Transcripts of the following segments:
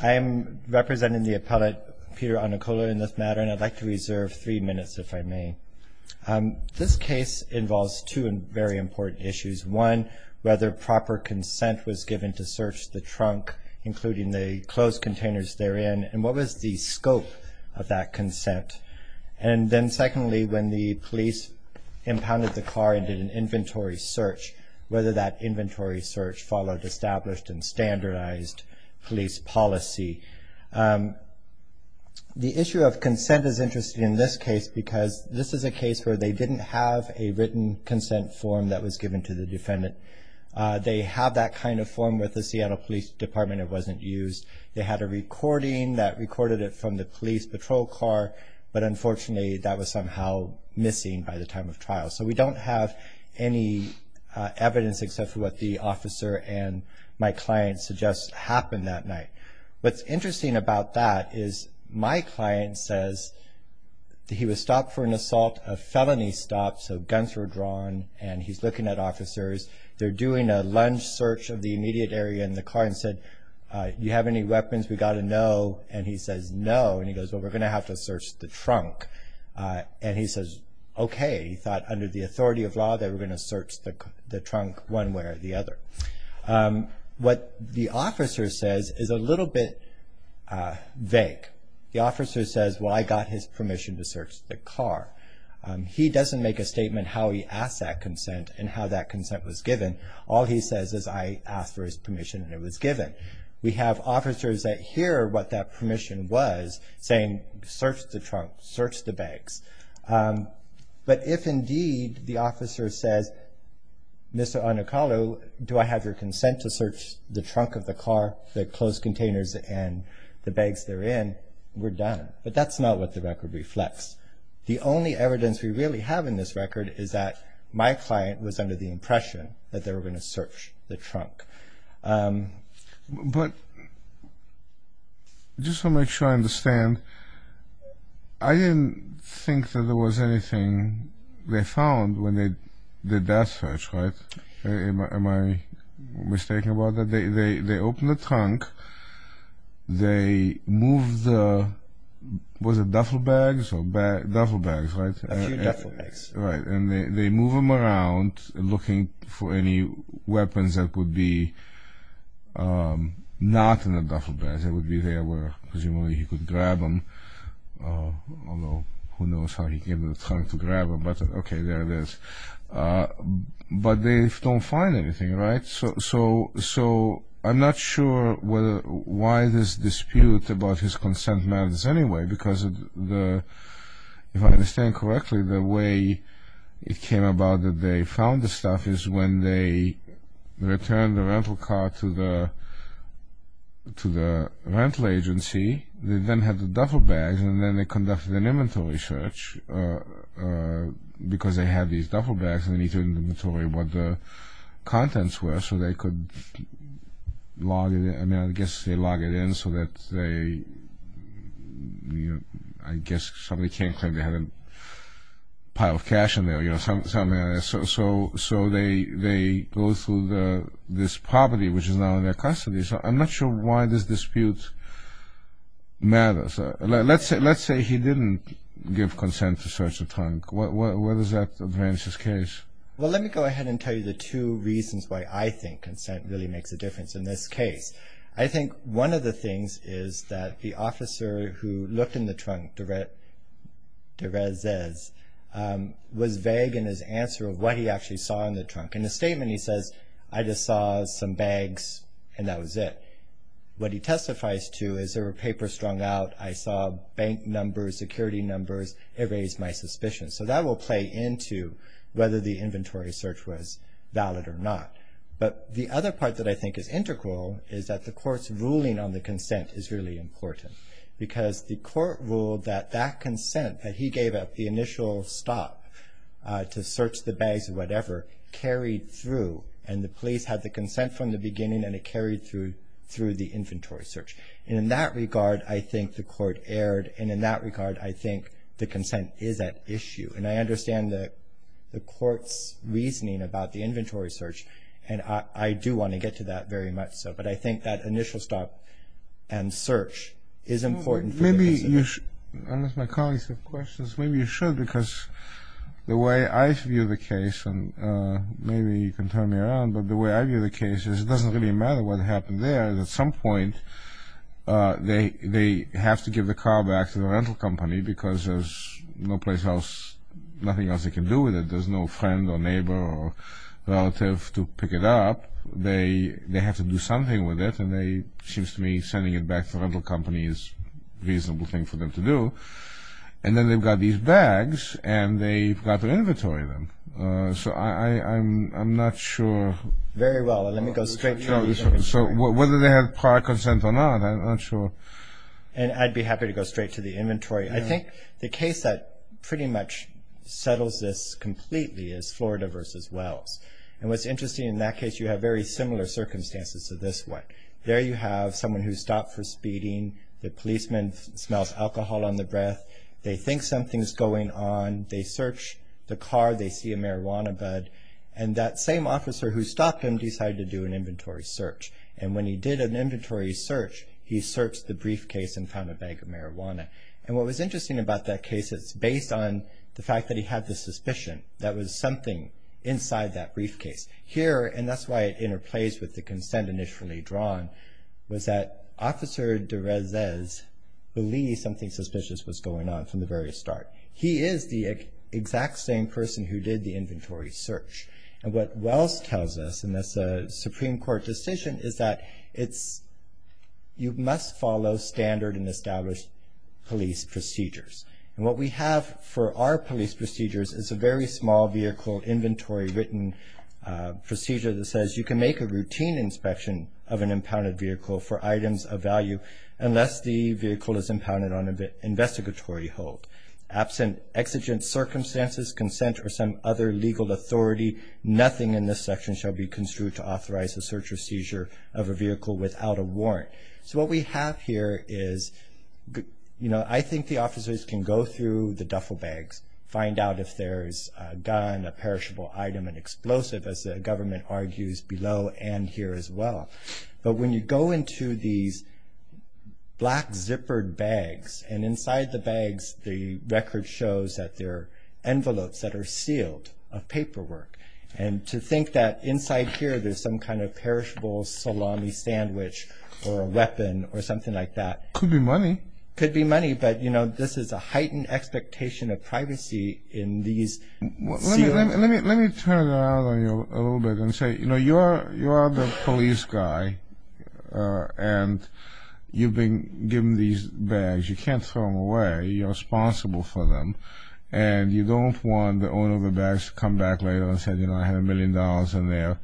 I am representing the appellate Peter Unakalu in this matter, and I'd like to reserve three minutes if I may. This case involves two very important issues. One, whether proper consent was given to search the trunk, including the closed containers therein, and what was the scope of that consent. And then secondly, when the police impounded the car and did an inventory search, whether that inventory search followed established and standardized police policy. The issue of consent is interesting in this case because this is a case where they didn't have a written consent form that was given to the defendant. They have that kind of form with the Seattle Police Department. It wasn't used. They had a recording that recorded it from the police patrol car, but unfortunately that was somehow missing by the time of trial. So we don't have any evidence except for what the officer and my client suggests happened that night. What's interesting about that is my client says he was stopped for an assault, a felony stop, so guns were drawn, and he's looking at officers. They're doing a lunge search of the immediate area in the car and said, do you have any weapons? We've got to know, and he says no. And he goes, well, we're going to have to search the trunk. And he says, okay. He thought under the authority of law they were going to search the trunk one way or the other. What the officer says is a little bit vague. The officer says, well, I got his permission to search the car. He doesn't make a statement how he asked that consent and how that consent was given. All he says is I asked for his permission and it was given. We have officers that hear what that permission was saying search the trunk, search the bags. But if indeed the officer says, Mr. Onokalu, do I have your consent to search the trunk of the car, the closed containers, and the bags therein, we're done. But that's not what the record reflects. The only evidence we really have in this record is that my client was under the impression that they were going to search the trunk. But just to make sure I understand, I didn't think that there was anything they found when they did that search, right? Am I mistaken about that? They open the trunk. They move the, was it duffel bags? Duffel bags, right? A few duffel bags. Right. And they move them around looking for any weapons that would be not in the duffel bags. They would be there where presumably he could grab them, although who knows how he came to the trunk to grab them. But, okay, there it is. But they don't find anything, right? So I'm not sure why this dispute about his consent matters anyway, because if I understand correctly, the way it came about that they found the stuff is when they returned the rental car to the rental agency. They then had the duffel bags, and then they conducted an inventory search, because they had these duffel bags and they needed to inventory what the contents were so they could log it in. I mean, I guess they log it in so that they, you know, I guess somebody can't claim they had a pile of cash in there, you know, something like that. So they go through this property, which is now in their custody. So I'm not sure why this dispute matters. Let's say he didn't give consent to search the trunk. Where does that advance his case? Well, let me go ahead and tell you the two reasons why I think consent really makes a difference in this case. I think one of the things is that the officer who looked in the trunk, Derez Zez, was vague in his answer of what he actually saw in the trunk. In the statement he says, I just saw some bags and that was it. What he testifies to is there were papers strung out. I saw bank numbers, security numbers. It raised my suspicion. So that will play into whether the inventory search was valid or not. But the other part that I think is integral is that the court's ruling on the consent is really important, because the court ruled that that consent, that he gave up the initial stop to search the bags or whatever, it carried through and the police had the consent from the beginning and it carried through the inventory search. And in that regard, I think the court erred. And in that regard, I think the consent is at issue. And I understand the court's reasoning about the inventory search, and I do want to get to that very much so. But I think that initial stop and search is important. Maybe you should, unless my colleagues have questions, maybe you should, because the way I view the case, and maybe you can turn me around, but the way I view the case is it doesn't really matter what happened there. At some point, they have to give the car back to the rental company because there's no place else, nothing else they can do with it. There's no friend or neighbor or relative to pick it up. They have to do something with it, and it seems to me sending it back to the rental company is a reasonable thing for them to do. And then they've got these bags, and they've got the inventory of them. So I'm not sure. Very well. Let me go straight to the inventory. So whether they have prior consent or not, I'm not sure. And I'd be happy to go straight to the inventory. I think the case that pretty much settles this completely is Florida v. Wells. And what's interesting in that case, you have very similar circumstances to this one. There you have someone who stopped for speeding. The policeman smells alcohol on the breath. They think something's going on. They search the car. They see a marijuana bud. And that same officer who stopped him decided to do an inventory search. And when he did an inventory search, he searched the briefcase and found a bag of marijuana. And what was interesting about that case, it's based on the fact that he had the suspicion that there was something inside that briefcase. Here, and that's why it interplays with the consent initially drawn, was that Officer de Rezes believed something suspicious was going on from the very start. He is the exact same person who did the inventory search. And what Wells tells us, and that's a Supreme Court decision, is that you must follow standard and established police procedures. And what we have for our police procedures is a very small vehicle inventory written procedure that says you can make a routine inspection of an impounded vehicle for items of value unless the vehicle is impounded on an investigatory hold. Absent exigent circumstances, consent, or some other legal authority, nothing in this section shall be construed to authorize the search or seizure of a vehicle without a warrant. So what we have here is, you know, I think the officers can go through the duffel bags, find out if there's a gun, a perishable item, an explosive, as the government argues below and here as well. But when you go into these black zippered bags, and inside the bags the record shows that there are envelopes that are sealed of paperwork. And to think that inside here there's some kind of perishable salami sandwich or a weapon or something like that. Could be money. Could be money, but, you know, this is a heightened expectation of privacy in these sealings. Let me turn it around on you a little bit and say, you know, you are the police guy and you've been given these bags. You can't throw them away. You're responsible for them. And you don't want the owner of the bags to come back later and say, you know, I had a million dollars in there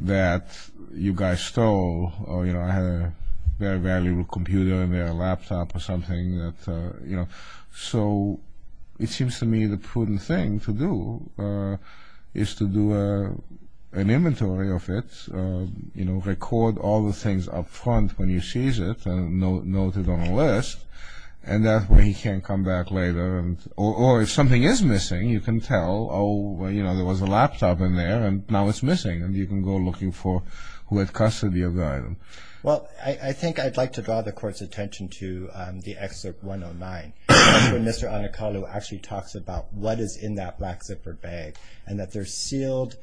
that you guys stole or, you know, I had a very valuable computer in there, a laptop or something that, you know. So it seems to me the prudent thing to do is to do an inventory of it, you know, record all the things up front when he sees it and note it on a list and that way he can't come back later. Or if something is missing, you can tell, oh, you know, there was a laptop in there and now it's missing and you can go looking for who had custody of the item. Well, I think I'd like to draw the court's attention to the excerpt 109 when Mr. Anacaldo actually talks about what is in that black zippered bag and that they're sealed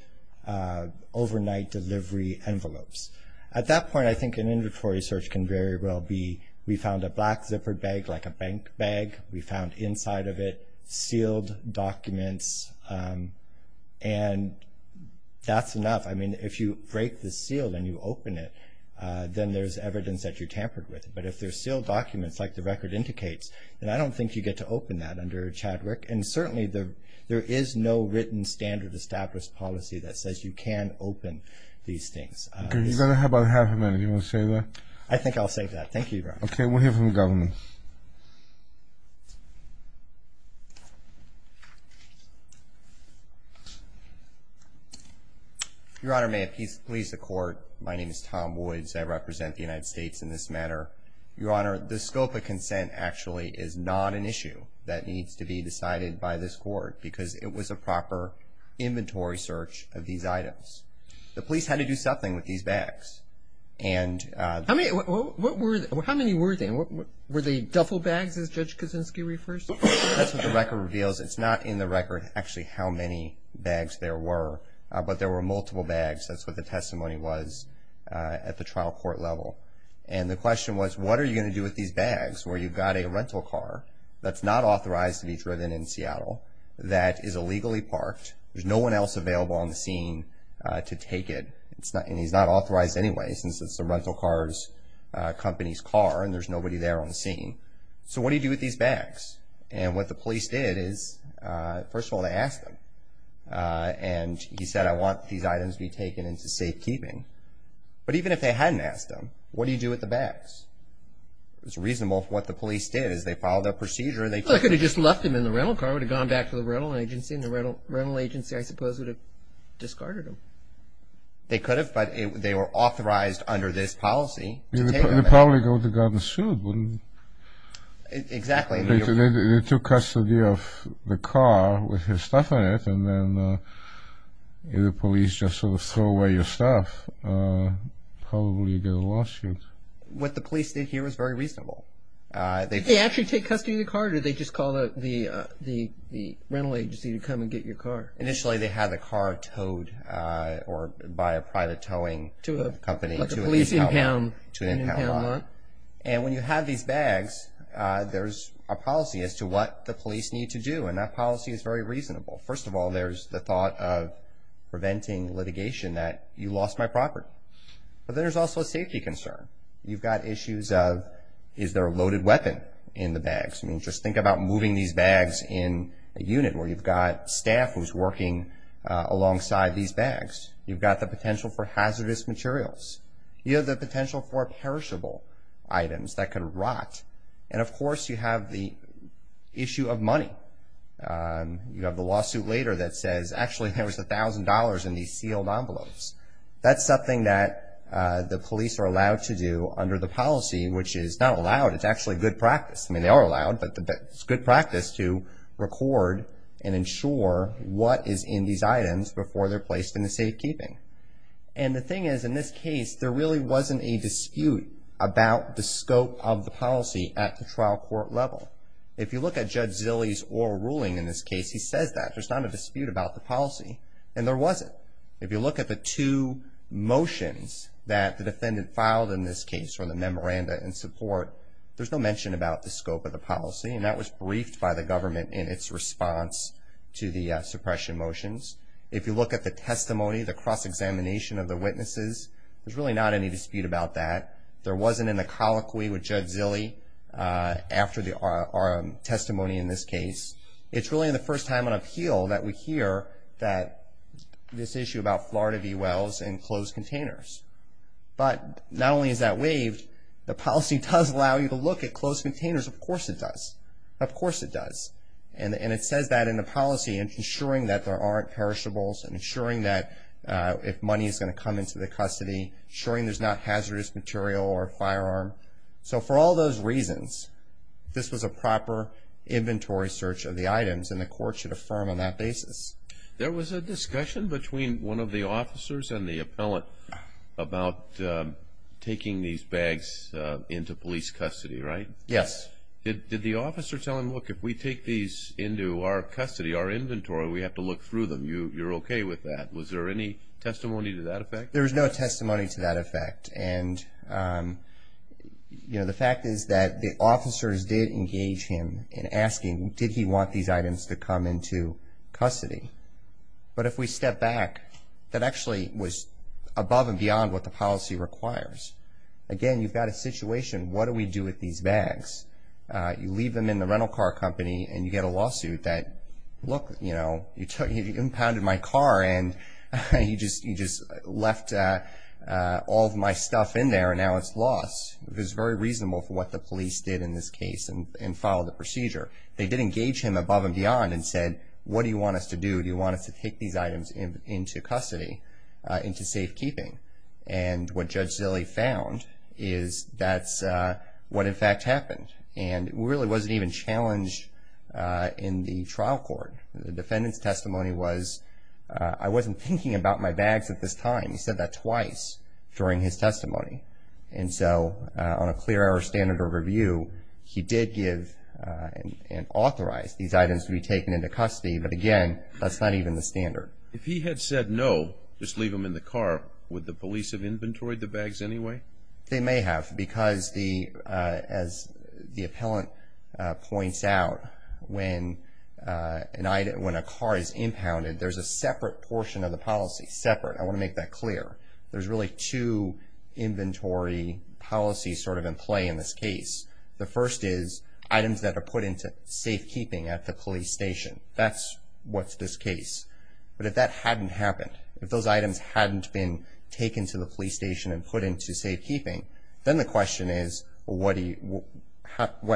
overnight delivery envelopes. At that point, I think an inventory search can very well be, we found a black zippered bag like a bank bag, we found inside of it sealed documents and that's enough. I mean, if you break the seal and you open it, then there's evidence that you tampered with it. But if they're sealed documents like the record indicates, then I don't think you get to open that under a Chadwick and certainly there is no written standard established policy that says you can open these things. Okay, you've got about half a minute. Do you want to save that? I think I'll save that. Thank you, Your Honor. Okay, we'll hear from the government. Your Honor, may it please the court, my name is Tom Boyds. I represent the United States in this matter. Your Honor, the scope of consent actually is not an issue that needs to be decided by this court because it was a proper inventory search of these items. The police had to do something with these bags. How many were they? Were they duffel bags as Judge Kuczynski refers to them? That's what the record reveals. It's not in the record actually how many bags there were, but there were multiple bags. That's what the testimony was at the trial court level. And the question was what are you going to do with these bags where you've got a rental car that's not authorized to be driven in Seattle, that is illegally parked, there's no one else available on the scene to take it, and he's not authorized anyway since it's the rental car's company's car and there's nobody there on the scene. So what do you do with these bags? And what the police did is, first of all, they asked him. And he said, I want these items to be taken into safekeeping. But even if they hadn't asked him, what do you do with the bags? It was reasonable for what the police did is they followed their procedure. They could have just left them in the rental car. They probably would have gone back to the rental agency, and the rental agency I suppose would have discarded them. They could have, but they were authorized under this policy to take them. They'd probably go to guard the suit, wouldn't they? Exactly. If they took custody of the car with his stuff in it and then the police just sort of throw away your stuff, probably you get a lawsuit. What the police did here was very reasonable. Did they actually take custody of the car, or did they just call the rental agency to come and get your car? Initially they had the car towed by a private towing company to an impound lot. And when you have these bags, there's a policy as to what the police need to do, and that policy is very reasonable. First of all, there's the thought of preventing litigation that you lost my property. But there's also a safety concern. You've got issues of is there a loaded weapon in the bags? I mean, just think about moving these bags in a unit where you've got staff who's working alongside these bags. You've got the potential for hazardous materials. You have the potential for perishable items that could rot. And of course you have the issue of money. You have the lawsuit later that says, actually there was $1,000 in these sealed envelopes. That's something that the police are allowed to do under the policy, which is not allowed. It's actually good practice. I mean, they are allowed, but it's good practice to record and ensure what is in these items before they're placed in the safekeeping. And the thing is, in this case, there really wasn't a dispute about the scope of the policy at the trial court level. If you look at Judge Zilley's oral ruling in this case, he says that. There's not a dispute about the policy, and there wasn't. If you look at the two motions that the defendant filed in this case, or the memoranda in support, there's no mention about the scope of the policy, and that was briefed by the government in its response to the suppression motions. If you look at the testimony, the cross-examination of the witnesses, there's really not any dispute about that. There wasn't in the colloquy with Judge Zilley after our testimony in this case. It's really the first time on appeal that we hear that this issue about Florida V. Wells and closed containers. But not only is that waived, the policy does allow you to look at closed containers. Of course it does. Of course it does. And it says that in the policy, ensuring that there aren't perishables, ensuring that if money is going to come into the custody, ensuring there's not hazardous material or a firearm. So for all those reasons, this was a proper inventory search of the items, and the court should affirm on that basis. There was a discussion between one of the officers and the appellant about taking these bags into police custody, right? Yes. Did the officer tell him, look, if we take these into our custody, our inventory, we have to look through them. You're okay with that. Was there any testimony to that effect? There was no testimony to that effect. The fact is that the officers did engage him in asking, did he want these items to come into custody? But if we step back, that actually was above and beyond what the policy requires. Again, you've got a situation, what do we do with these bags? You leave them in the rental car company and you get a lawsuit that, look, you impounded my car and you just left all of my stuff in there and now it's lost. It was very reasonable for what the police did in this case and followed the procedure. They did engage him above and beyond and said, what do you want us to do? Do you want us to take these items into custody, into safekeeping? And what Judge Zille found is that's what, in fact, happened. And it really wasn't even challenged in the trial court. The defendant's testimony was, I wasn't thinking about my bags at this time. He said that twice during his testimony. And so on a clear error standard of review, he did give and authorize these items to be taken into custody. But, again, that's not even the standard. If he had said no, just leave them in the car, would the police have inventoried the bags anyway? They may have because, as the appellant points out, when a car is impounded, there's a separate portion of the policy. Separate, I want to make that clear. There's really two inventory policies sort of in play in this case. The first is items that are put into safekeeping at the police station. That's what's this case. But if that hadn't happened, if those items hadn't been taken to the police station and put into safekeeping, then the question is, what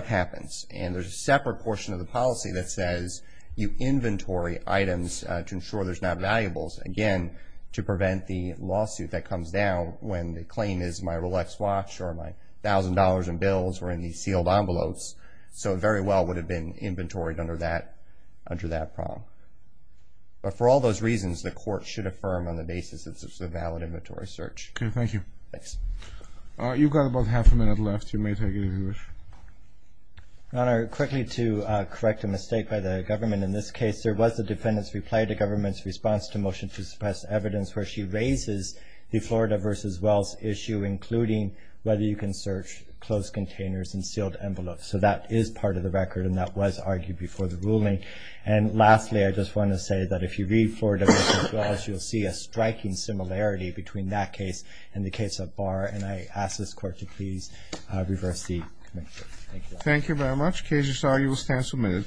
happens? And there's a separate portion of the policy that says, you inventory items to ensure there's not valuables. Again, to prevent the lawsuit that comes down when the claim is my Rolex watch or my $1,000 in bills or any sealed envelopes. So it very well would have been inventoried under that problem. But for all those reasons, the court should affirm on the basis that it's a valid inventory search. Okay, thank you. Thanks. You've got about half a minute left. You may take it if you wish. Your Honor, quickly to correct a mistake by the government in this case, there was a defendant's reply to government's response to motion to suppress evidence where she raises the Florida v. Wells issue, including whether you can search closed containers and sealed envelopes. So that is part of the record, and that was argued before the ruling. And lastly, I just want to say that if you read Florida v. Wells, you'll see a striking similarity between that case and the case of Barr. And I ask this Court to please reverse the connection. Thank you, Your Honor. Thank you very much. The case is argued. We'll stand for a minute.